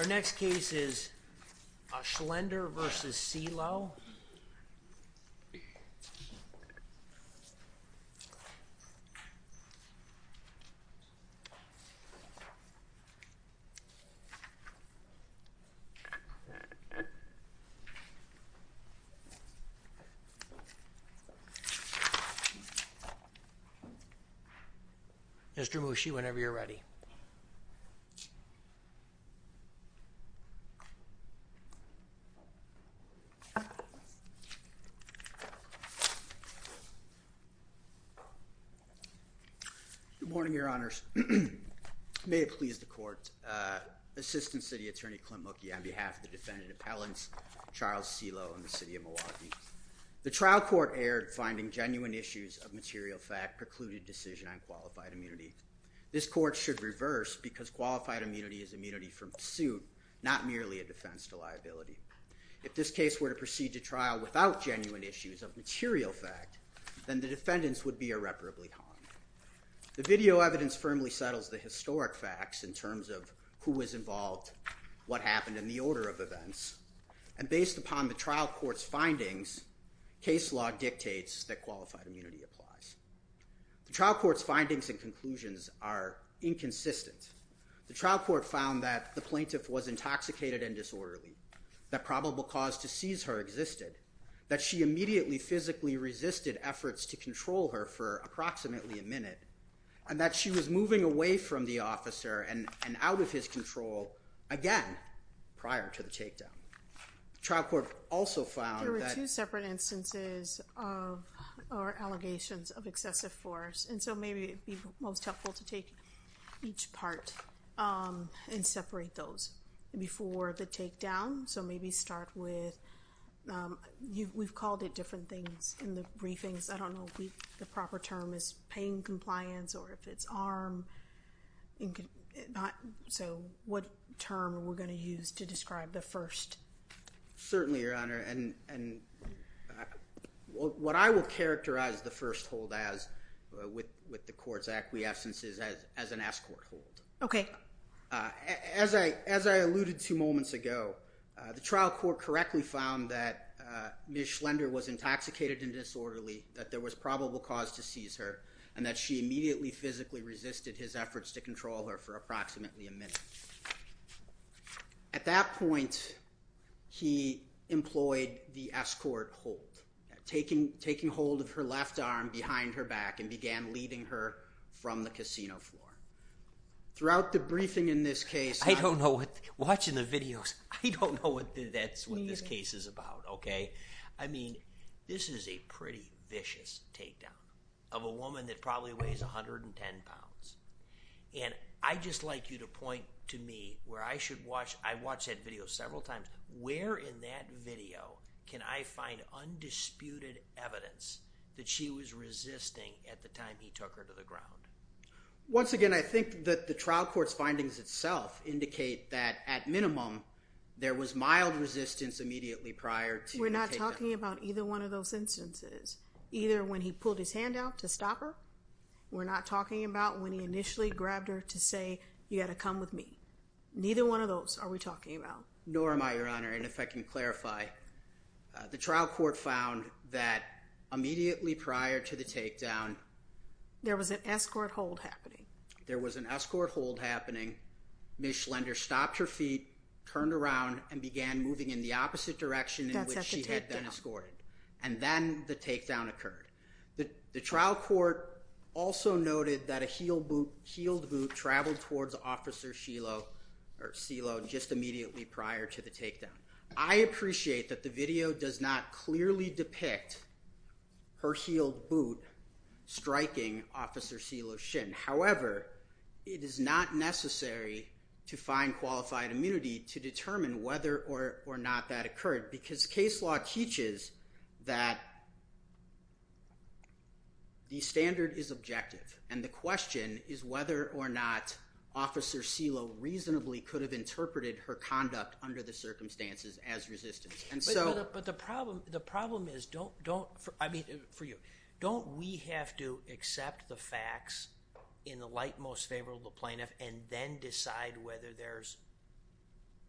Our next case is Schlender v. Seelow. Mr. Mushi, whenever you're ready. Good morning, Your Honors. May it please the Court, Assistant City Attorney Clint Mookie on behalf of the Defendant Appellants Charles Seelow and the City of Milwaukee. The trial court aired finding genuine issues of material fact precluded decision on qualified immunity. This Court should reverse because qualified immunity is immunity from suit, not merely a defense to liability. If this case were to proceed to trial without genuine issues of material fact, then the defendants would be irreparably harmed. The video evidence firmly settles the historic facts in terms of who was involved, what happened in the order of events. And based upon the trial court's findings, case law dictates that qualified immunity applies. The trial court's findings and conclusions are inconsistent. The trial court found that the plaintiff was intoxicated and disorderly, that probable cause to seize her existed, that she immediately physically resisted efforts to control her for approximately a minute, and that she was moving away from the officer and out of his control again prior to the takedown. The trial court also found that— There are two separate instances of—or allegations of excessive force. And so maybe it'd be most helpful to take each part and separate those before the takedown. So maybe start with—we've called it different things in the briefings. I don't know if the proper term is pain compliance or if it's arm—so what term we're going to use to describe the first? Certainly, Your Honor. And what I will characterize the first hold as with the court's acquiescence is as an escort hold. Okay. As I alluded to moments ago, the trial court correctly found that Ms. Schlender was intoxicated and disorderly, that there was probable cause to seize her, and that she immediately physically resisted his efforts to control her for approximately a minute. At that point, he employed the escort hold, taking hold of her left arm behind her back and began leading her from the casino floor. Throughout the briefing in this case— I don't know what—watching the videos, I don't know what that's—what this case is about, okay? I mean, this is a pretty vicious takedown of a woman that probably weighs 110 pounds. And I'd just like you to point to me where I should watch—I watched that video several times—where in that video can I find undisputed evidence that she was resisting at the time he took her to the ground? Once again, I think that the trial court's findings itself indicate that at minimum, there was mild resistance immediately prior to the takedown. We're not talking about either one of those instances, either when he pulled his hand out to stop her. We're not talking about when he initially grabbed her to say, you got to come with me. Neither one of those are we talking about. Nor am I, Your Honor. And if I can clarify, the trial court found that immediately prior to the takedown— There was an escort hold happening. There was an escort hold happening. Ms. Schlender stopped her feet, turned around, and began moving in the opposite direction in which she had been escorted. And then the takedown occurred. The trial court also noted that a heeled boot traveled towards Officer Silo just immediately prior to the takedown. I appreciate that the video does not clearly depict her heeled boot striking Officer Silo Shin. However, it is not necessary to find qualified immunity to determine whether or not that because case law teaches that the standard is objective. And the question is whether or not Officer Silo reasonably could have interpreted her conduct under the circumstances as resistance. But the problem is, don't—I mean, for you—don't we have to accept the facts in the light most favorable to the plaintiff and then decide whether there's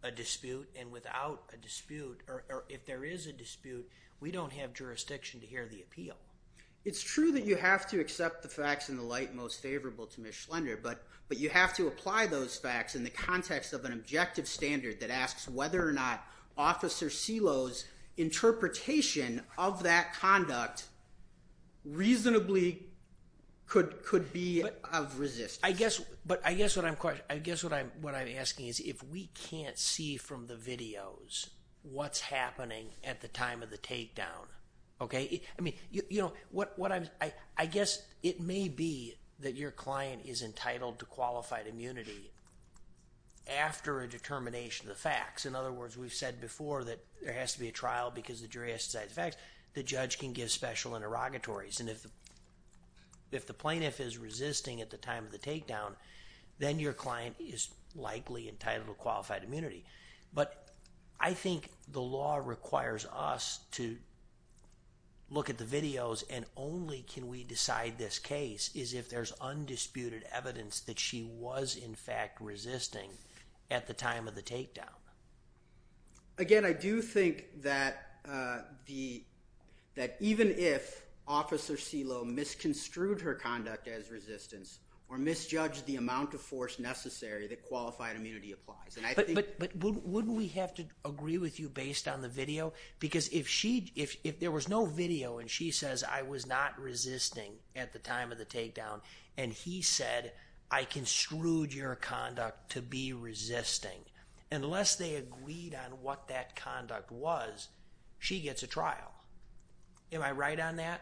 a dispute. And without a dispute—or if there is a dispute, we don't have jurisdiction to hear the appeal. It's true that you have to accept the facts in the light most favorable to Ms. Schlender, but you have to apply those facts in the context of an objective standard that asks whether or not Officer Silo's interpretation of that conduct reasonably could be of resistance. But I guess what I'm asking is, if we can't see from the videos what's happening at the time of the takedown, okay—I mean, you know, what I'm—I guess it may be that your client is entitled to qualified immunity after a determination of the facts. In other words, we've said before that there has to be a trial because the jury has to decide the facts. The judge can give special interrogatories. And if the plaintiff is resisting at the time of the takedown, then your client is likely entitled to qualified immunity. But I think the law requires us to look at the videos and only can we decide this case is if there's undisputed evidence that she was, in fact, resisting at the time of the takedown. Again, I do think that the—that even if Officer Silo misconstrued her conduct as resistance or misjudged the amount of force necessary, that qualified immunity applies. And I think— But wouldn't we have to agree with you based on the video? Because if she—if there was no video and she says, I was not resisting at the time of the takedown, and he said, I construed your conduct to be resisting. Unless they agreed on what that conduct was, she gets a trial. Am I right on that?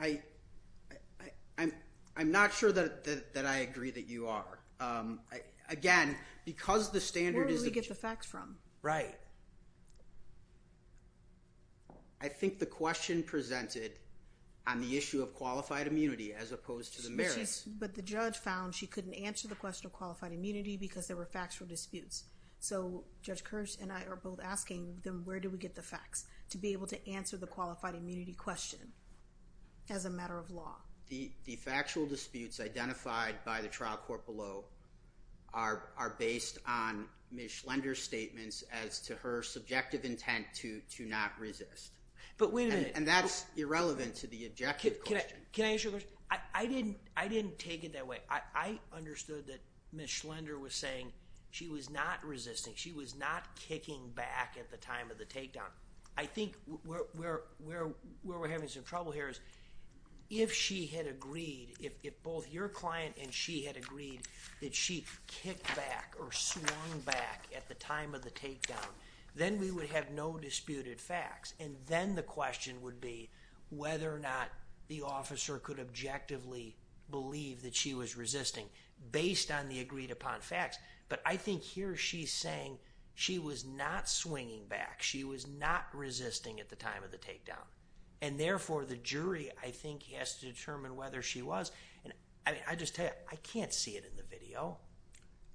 I—I'm—I'm not sure that—that I agree that you are. Again, because the standard is— Where do we get the facts from? Right. I think the question presented on the issue of qualified immunity as opposed to the merits— But she's—but the judge found she couldn't answer the question of qualified immunity because there were factual disputes. So Judge Kirsch and I are both asking, then where do we get the facts to be able to answer the qualified immunity question as a matter of law? The—the factual disputes identified by the trial court below are—are based on Ms. Schlender's statements as to her subjective intent to—to not resist. But wait a minute— And that's irrelevant to the objective question. Can I—can I ask you a question? I—I didn't—I didn't take it that way. I—I understood that Ms. Schlender was saying she was not resisting. She was not kicking back at the time of the takedown. I think we're—we're—we're—we're having some trouble here is if she had agreed, if—if both your client and she had agreed that she kicked back or swung back at the time of the takedown, then we would have no disputed facts. And then the question would be whether or not the officer could objectively believe that she was resisting based on the agreed upon facts. But I think here she's saying she was not swinging back. She was not resisting at the time of the takedown. And therefore, the jury, I think, has to determine whether she was. And, I mean, I just tell you, I can't see it in the video.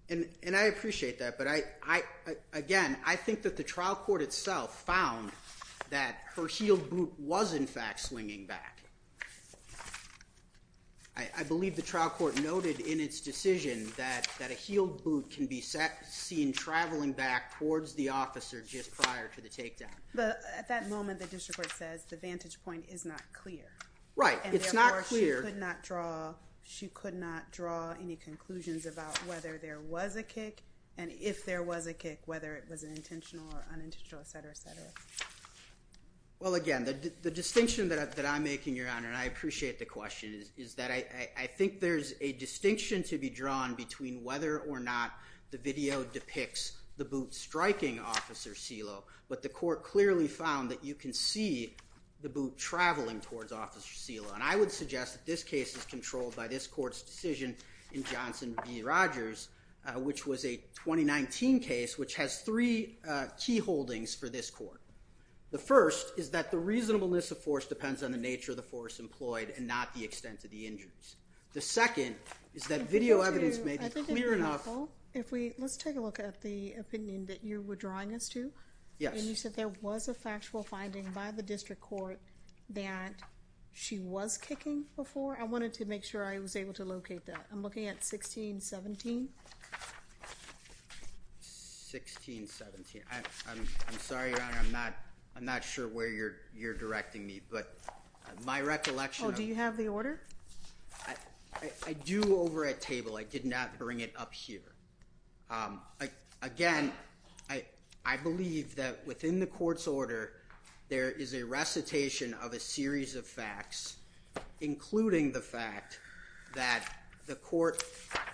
And—and I appreciate that. But I—I—again, I think that the trial court itself found that her heel boot was, in fact, swinging back. I—I believe the trial court noted in its decision that—that a heeled boot can be seen traveling back towards the officer just prior to the takedown. But at that moment, the district court says the vantage point is not clear. Right. It's not clear. And therefore, she could not draw—she could not draw any conclusions about whether there was a kick and if there was a kick, whether it was an intentional or unintentional, et cetera, et cetera. Well, again, the—the distinction that—that I make in your honor, and I appreciate the question, is—is that I—I think there's a distinction to be drawn between whether or not the video depicts the boot striking Officer Celo. But the court clearly found that you can see the boot traveling towards Officer Celo. And I would suggest that this case is controlled by this court's decision in Johnson v. Rogers, which was a 2019 case, which has three key holdings for this court. The first is that the reasonableness of force depends on the nature of the force employed and not the extent of the injuries. The second is that video evidence may be clear enough— I think it'd be helpful if we—let's take a look at the opinion that you were drawing us to. Yes. And you said there was a factual finding by the district court that she was kicking before. I wanted to make sure I was able to locate that. I'm looking at 1617. 1617. I—I'm—I'm sorry, Your Honor, I'm not—I'm not sure where you're—you're directing me, but my recollection of— Oh, do you have the order? I—I do over at table. I did not bring it up here. I—again, I—I believe that within the court's order, there is a recitation of a series of facts, including the fact that the court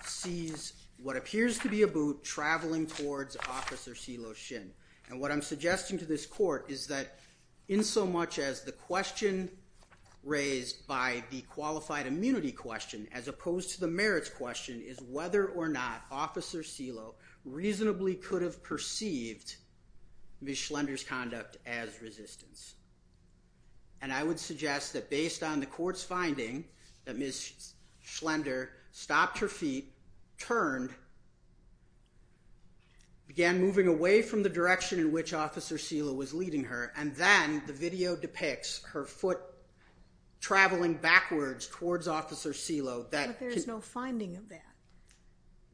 sees what appears to be a boot traveling towards Officer Cee-Lo Shin. And what I'm suggesting to this court is that in so much as the question raised by the qualified immunity question, as opposed to the merits question, is whether or not Officer Cee-Lo reasonably could have perceived Ms. Schlender's conduct as resistance. And I would suggest that based on the court's finding that Ms. Schlender stopped her feet, turned, began moving away from the direction in which Officer Cee-Lo was leading her, and then the video depicts her foot traveling backwards towards Officer Cee-Lo that— But there's no finding of that.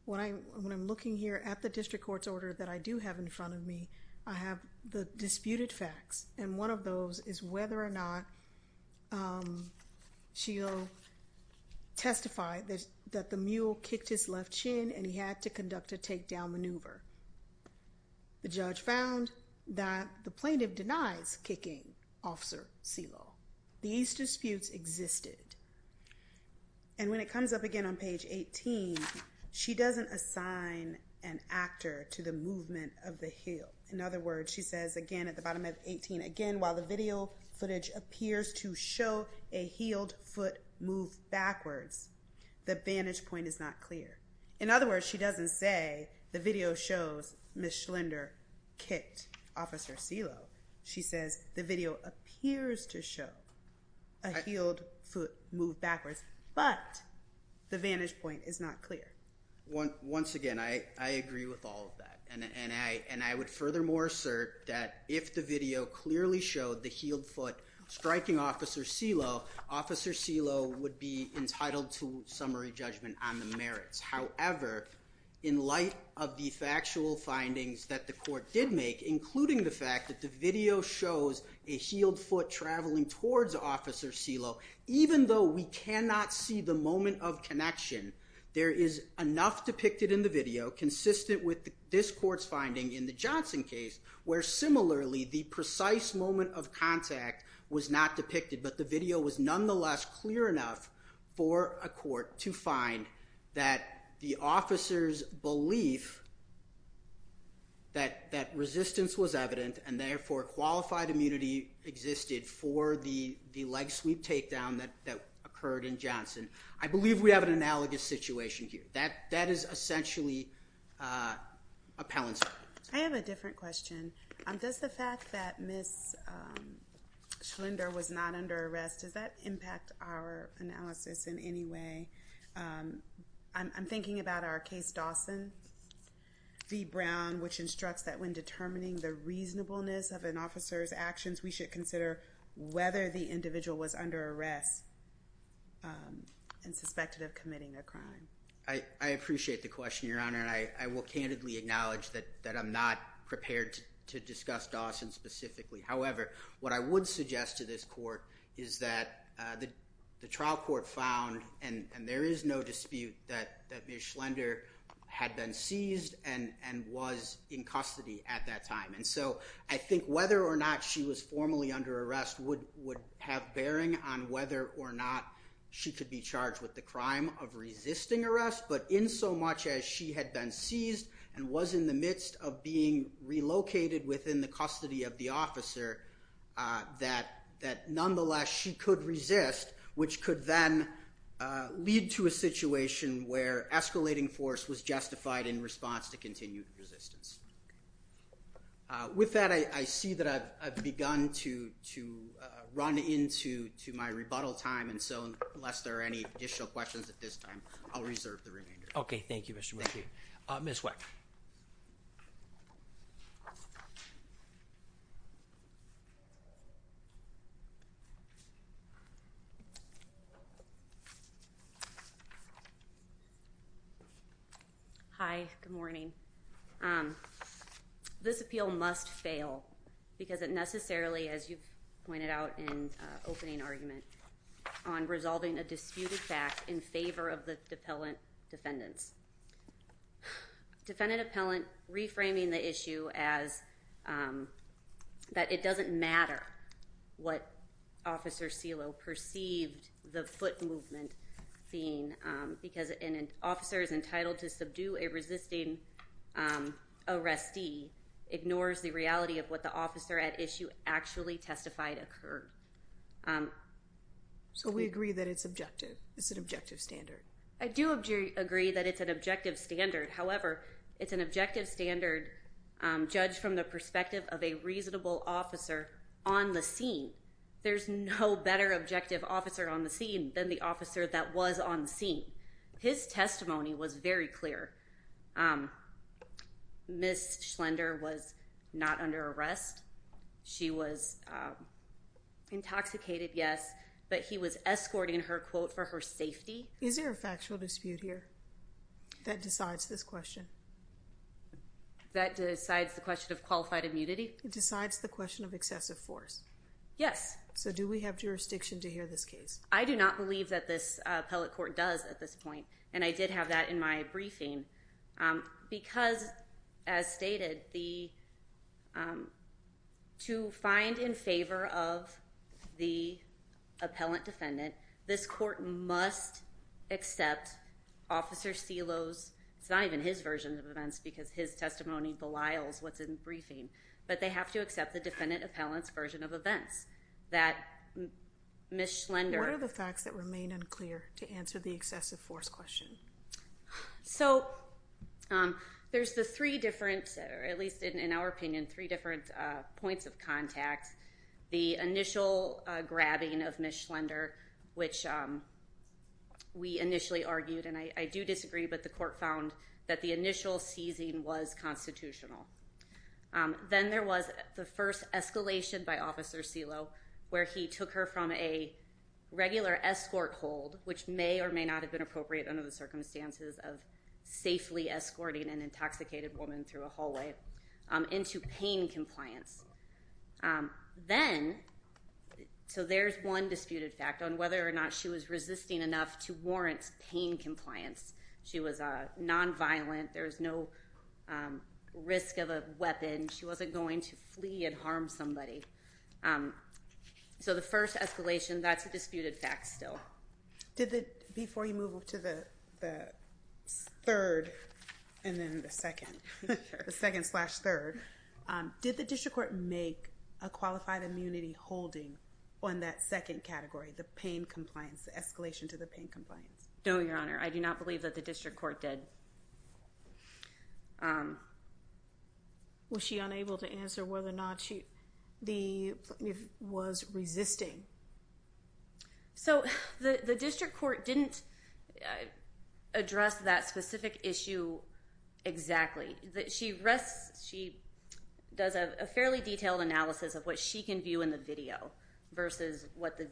When I—when I'm looking here at the district court's order that I do have in front of me, I have the disputed facts. And one of those is whether or not Cee-Lo testified that the mule kicked his left chin and he had to conduct a takedown maneuver. The judge found that the plaintiff denies kicking Officer Cee-Lo. These disputes existed. And when it comes up again on page 18, she doesn't assign an actor to the movement of the heel. In other words, she says again at the bottom of 18, again, while the video footage appears to show a heeled foot move backwards, the vantage point is not clear. In other words, she doesn't say the video shows Ms. Schlender kicked Officer Cee-Lo. She says the video appears to show a heeled foot move backwards, but the vantage point is not clear. Once again, I agree with all of that. And I would furthermore assert that if the video clearly showed the heeled foot striking Officer Cee-Lo, Officer Cee-Lo would be entitled to summary judgment on the merits. However, in light of the factual findings that the court did make, including the fact that the video shows a heeled foot traveling towards Officer Cee-Lo, even though we cannot see the moment of connection, there is enough depicted in the video consistent with this court's finding in the Johnson case where similarly the precise moment of contact was not depicted, but the video was nonetheless clear enough for a court to find that the officer's belief that resistance was evident and therefore qualified immunity existed for the leg sweep takedown that occurred in Johnson. I believe we have an analogous situation here. That is essentially appellant's fault. I have a different question. Does the fact that Ms. Schlender was not under arrest, does that impact our analysis in any way? I'm thinking about our case Dawson v. Brown, which instructs that when determining the reasonableness of an officer's actions, we should consider whether the individual was under arrest and suspected of committing a crime. I appreciate the question, Your Honor, and I will candidly acknowledge that I'm not prepared to discuss Dawson specifically. However, what I would suggest to this court is that the trial court found, and there is no dispute, that Ms. Schlender had been seized and was in custody at that time. And so I think whether or not she was formally under arrest would have bearing on whether or not she could be charged with the crime of resisting arrest. But in so much as she had been seized and was in the midst of being relocated within the custody of the officer, that nonetheless she could resist, which could then lead to a situation where escalating force was justified in response to continued resistance. With that, I see that I've begun to run into my rebuttal time, and so unless there are any additional questions at this time, I'll reserve the remainder. Okay, thank you, Mr. McKeon. Ms. Weck. Hi, good morning. This appeal must fail because it necessarily, as you've pointed out in opening argument, on resolving a disputed fact in favor of the defendant. Defendant appellant reframing the issue as that it doesn't matter what Officer Celo perceived the foot movement being because an officer is entitled to subdue a resisting arrestee ignores the reality of what the officer at issue actually testified occurred. So we agree that it's objective. It's an objective standard. I do agree that it's an objective standard. However, it's an objective standard judged from the perspective of a reasonable officer on the scene. There's no better objective officer on the scene than the officer that was on the scene. His testimony was very clear. Ms. Schlender was not under arrest. She was intoxicated, yes, but he was escorting her, quote, for her safety. Is there a factual dispute here that decides this question? That decides the question of qualified immunity? It decides the question of excessive force. Yes. So do we have jurisdiction to hear this case? I do not believe that this appellate court does at this point, and I did have that in my briefing because, as stated, to find in favor of the appellant defendant, this court must accept Officer Celo's, it's not even his version of events because his testimony belies what's in the briefing, but they have to accept the defendant appellant's version of events that Ms. Schlender. What are the facts that remain unclear to answer the excessive force question? So there's the three different, or at least in our opinion, three different points of contact. The initial grabbing of Ms. Schlender, which we initially argued, and I do disagree, but the court found that the initial seizing was constitutional. Then there was the first escalation by Officer Celo where he took her from a regular escort hold, which may or may not have been appropriate under the circumstances of safely escorting an intoxicated woman through a hallway, into pain compliance. Then, so there's one disputed fact on whether or not she was resisting enough to warrant pain compliance. She was nonviolent. There was no risk of a weapon. She wasn't going to flee and harm somebody. So the first escalation, that's a disputed fact still. Before you move to the third and then the second, the second slash third, did the district court make a qualified immunity holding on that second category, the pain compliance, the escalation to the pain compliance? No, Your Honor. I do not believe that the district court did. Was she unable to answer whether or not she was resisting? So the district court didn't address that specific issue exactly. She does a fairly detailed analysis of what she can view in the video versus what the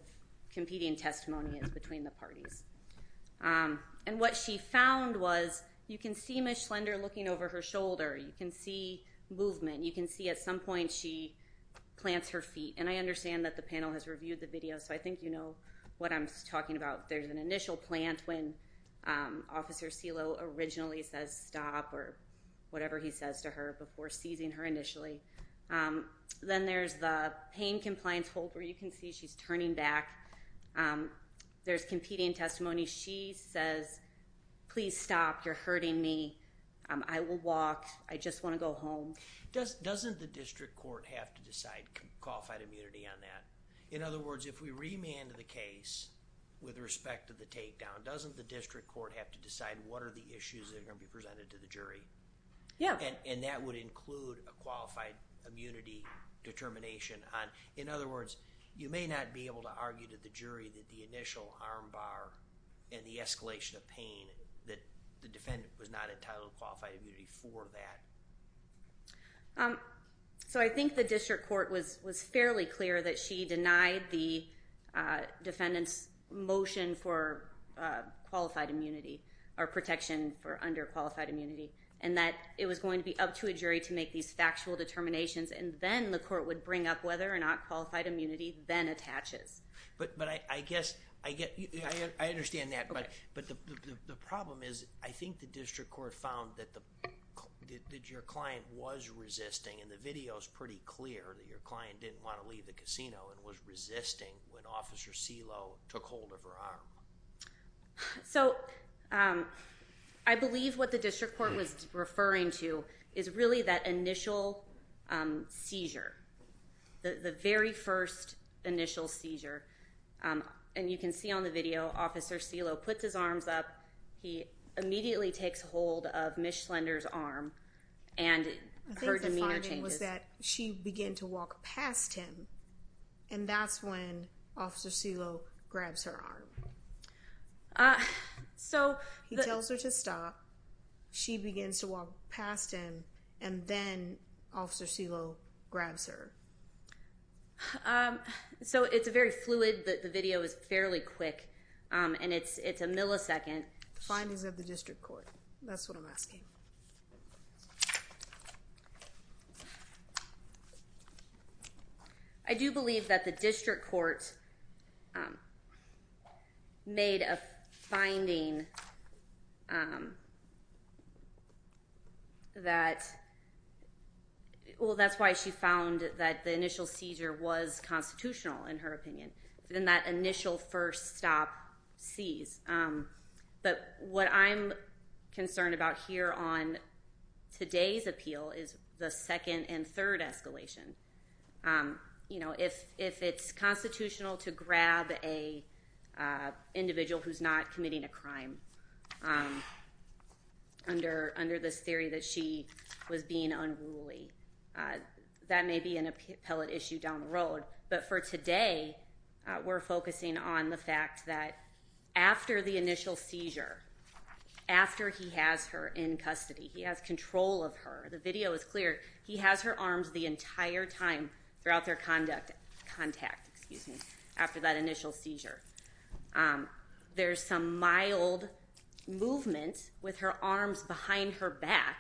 competing testimony is between the parties. And what she found was you can see Ms. Schlender looking over her shoulder. You can see movement. You can see at some point she plants her feet. And I understand that the panel has reviewed the video, so I think you know what I'm talking about. There's an initial plant when Officer Celo originally says stop or whatever he says to her before seizing her initially. Then there's the pain compliance hold where you can see she's turning back. There's competing testimony. She says, please stop. You're hurting me. I will walk. I just want to go home. Doesn't the district court have to decide qualified immunity on that? In other words, if we remanded the case with respect to the takedown, doesn't the district court have to decide what are the issues that are going to be presented to the jury? Yeah. And that would include a qualified immunity determination. In other words, you may not be able to argue to the jury that the initial arm bar and the escalation of pain that the defendant was not entitled to qualified immunity for that. So I think the district court was fairly clear that she denied the defendant's motion for qualified immunity or protection for underqualified immunity and that it was going to be up to a jury to make these factual determinations. And then the court would bring up whether or not qualified immunity then attaches. But I guess I get I understand that. But the problem is, I think the district court found that your client was resisting. And the video is pretty clear that your client didn't want to leave the casino and was resisting when Officer Celo took hold of her arm. So I believe what the district court was referring to is really that initial seizure, the very first initial seizure. And you can see on the video, Officer Celo puts his arms up. He immediately takes hold of Ms. Slender's arm and her demeanor changes. The problem is that she began to walk past him. And that's when Officer Celo grabs her arm. So he tells her to stop. She begins to walk past him. And then Officer Celo grabs her. So it's a very fluid. The video is fairly quick. And it's a millisecond. Findings of the district court. That's what I'm asking. I do believe that the district court made a finding that, well, that's why she found that the initial seizure was constitutional, in her opinion. Then that initial first stop seize. But what I'm concerned about here on today's appeal is the second and third escalation. If it's constitutional to grab an individual who's not committing a crime under this theory that she was being unruly, that may be an appellate issue down the road. But for today, we're focusing on the fact that after the initial seizure, after he has her in custody, he has control of her. The video is clear. He has her arms the entire time throughout their contact after that initial seizure. There's some mild movement with her arms behind her back,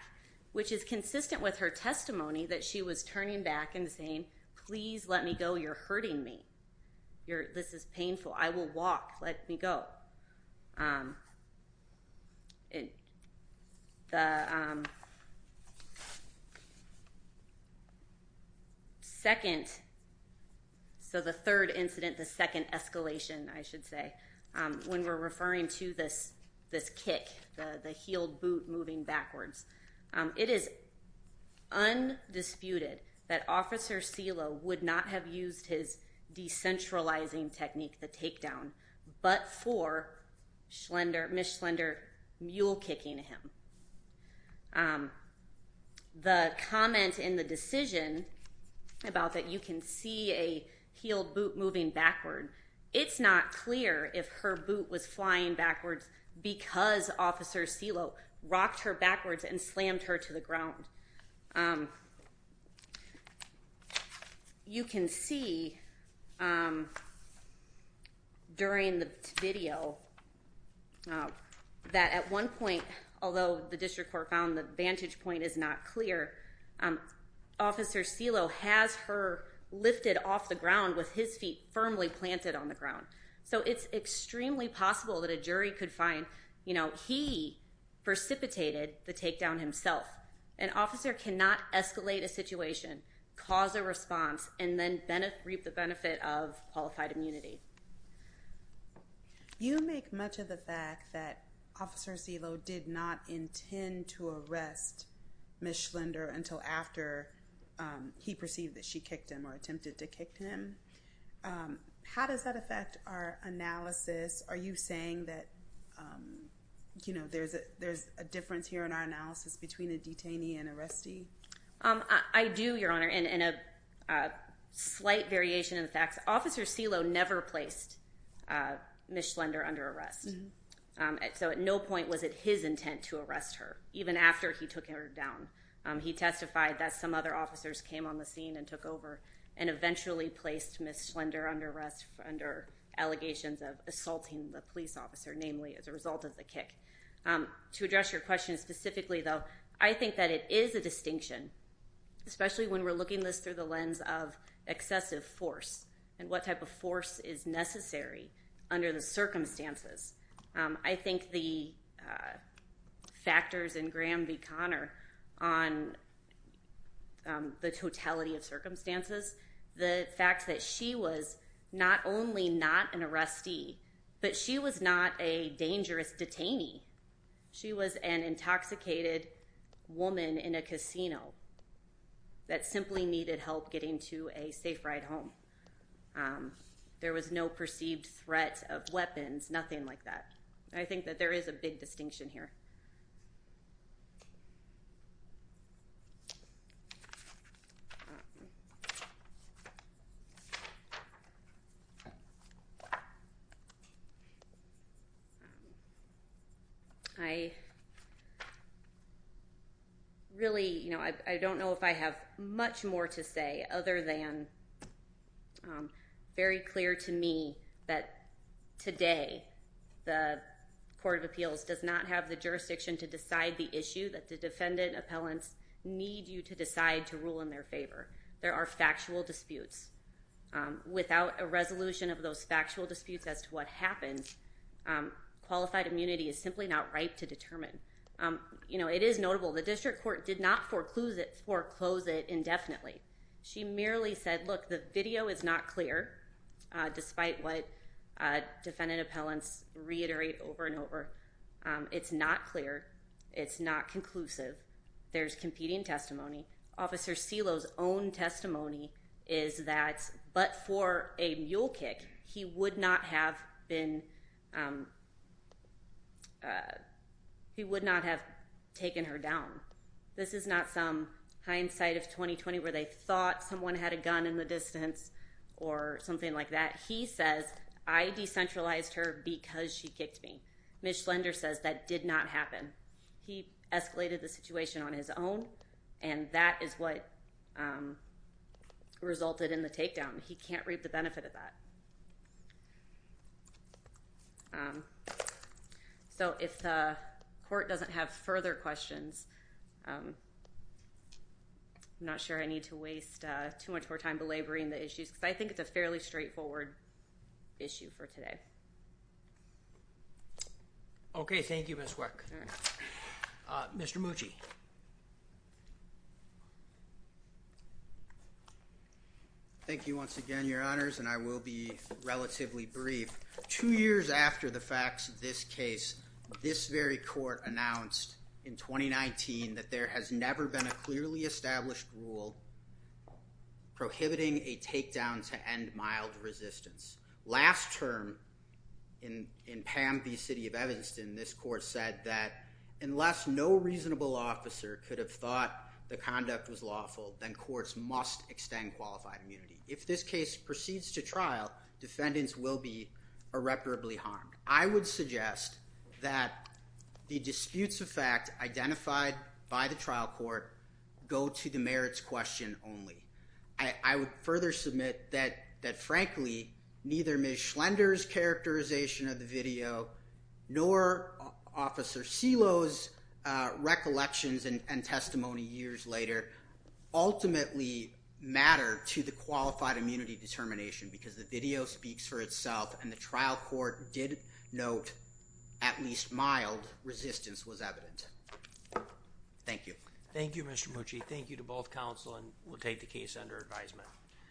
which is consistent with her testimony that she was turning back and saying, please let me go. You're hurting me. This is painful. I will walk. Let me go. The second. So the third incident, the second escalation, I should say, when we're referring to this, this kick, the heel boot moving backwards. It is undisputed that Officer Celo would not have used his decentralizing technique, the takedown, but for Schlender, Miss Schlender, mule kicking him. The comment in the decision about that you can see a heel boot moving backward. It's not clear if her boot was flying backwards because Officer Celo rocked her backwards and slammed her to the ground. You can see during the video that at one point, although the district court found the vantage point is not clear, Officer Celo has her lifted off the ground with his feet firmly planted on the ground. So it's extremely possible that a jury could find, you know, he precipitated the takedown himself. An officer cannot escalate a situation, cause a response, and then reap the benefit of qualified immunity. You make much of the fact that Officer Celo did not intend to arrest Miss Schlender until after he perceived that she kicked him or attempted to kick him. How does that affect our analysis? Are you saying that, you know, there's a difference here in our analysis between a detainee and arrestee? I do, Your Honor, in a slight variation of the facts. Officer Celo never placed Miss Schlender under arrest. So at no point was it his intent to arrest her, even after he took her down. He testified that some other officers came on the scene and took over and eventually placed Miss Schlender under arrest under allegations of assaulting the police officer, namely as a result of the kick. To address your question specifically, though, I think that it is a distinction, especially when we're looking at this through the lens of excessive force and what type of force is necessary under the circumstances. I think the factors in Graham v. Conner on the totality of circumstances, the fact that she was not only not an arrestee, but she was not a dangerous detainee. She was an intoxicated woman in a casino that simply needed help getting to a safe ride home. There was no perceived threat of weapons, nothing like that. I think that there is a big distinction here. I really, you know, I don't know if I have much more to say other than very clear to me that today the Court of Appeals does not have the jurisdiction over Miss Schlender. There is no jurisdiction to decide the issue that the defendant appellants need you to decide to rule in their favor. There are factual disputes. Without a resolution of those factual disputes as to what happened, qualified immunity is simply not right to determine. You know, it is notable the district court did not foreclose it indefinitely. She merely said, look, the video is not clear, despite what defendant appellants reiterate over and over. It's not clear. It's not conclusive. There's competing testimony. Officer Celo's own testimony is that but for a mule kick, he would not have been, he would not have taken her down. This is not some hindsight of 2020 where they thought someone had a gun in the distance or something like that. He says, I decentralized her because she kicked me. Miss Schlender says that did not happen. He escalated the situation on his own, and that is what resulted in the takedown. He can't reap the benefit of that. So if the court doesn't have further questions, I'm not sure I need to waste too much more time belaboring the issues because I think it's a fairly straightforward issue for today. Okay, thank you, Miss Wick. Mr. Mucci. Thank you once again, Your Honors, and I will be relatively brief. Two years after the facts of this case, this very court announced in 2019 that there has never been a clearly established rule prohibiting a takedown to end mild resistance. Last term in Pam v. City of Evanston, this court said that unless no reasonable officer could have thought the conduct was lawful, then courts must extend qualified immunity. If this case proceeds to trial, defendants will be irreparably harmed. I would suggest that the disputes of fact identified by the trial court go to the merits question only. I would further submit that, frankly, neither Miss Schlender's characterization of the video nor Officer Silo's recollections and testimony years later ultimately matter to the qualified immunity determination because the video speaks for itself and the trial court did note at least mild resistance was evident. Thank you. Thank you, Mr. Mucci. Thank you to both counsel and we'll take the case under advisement.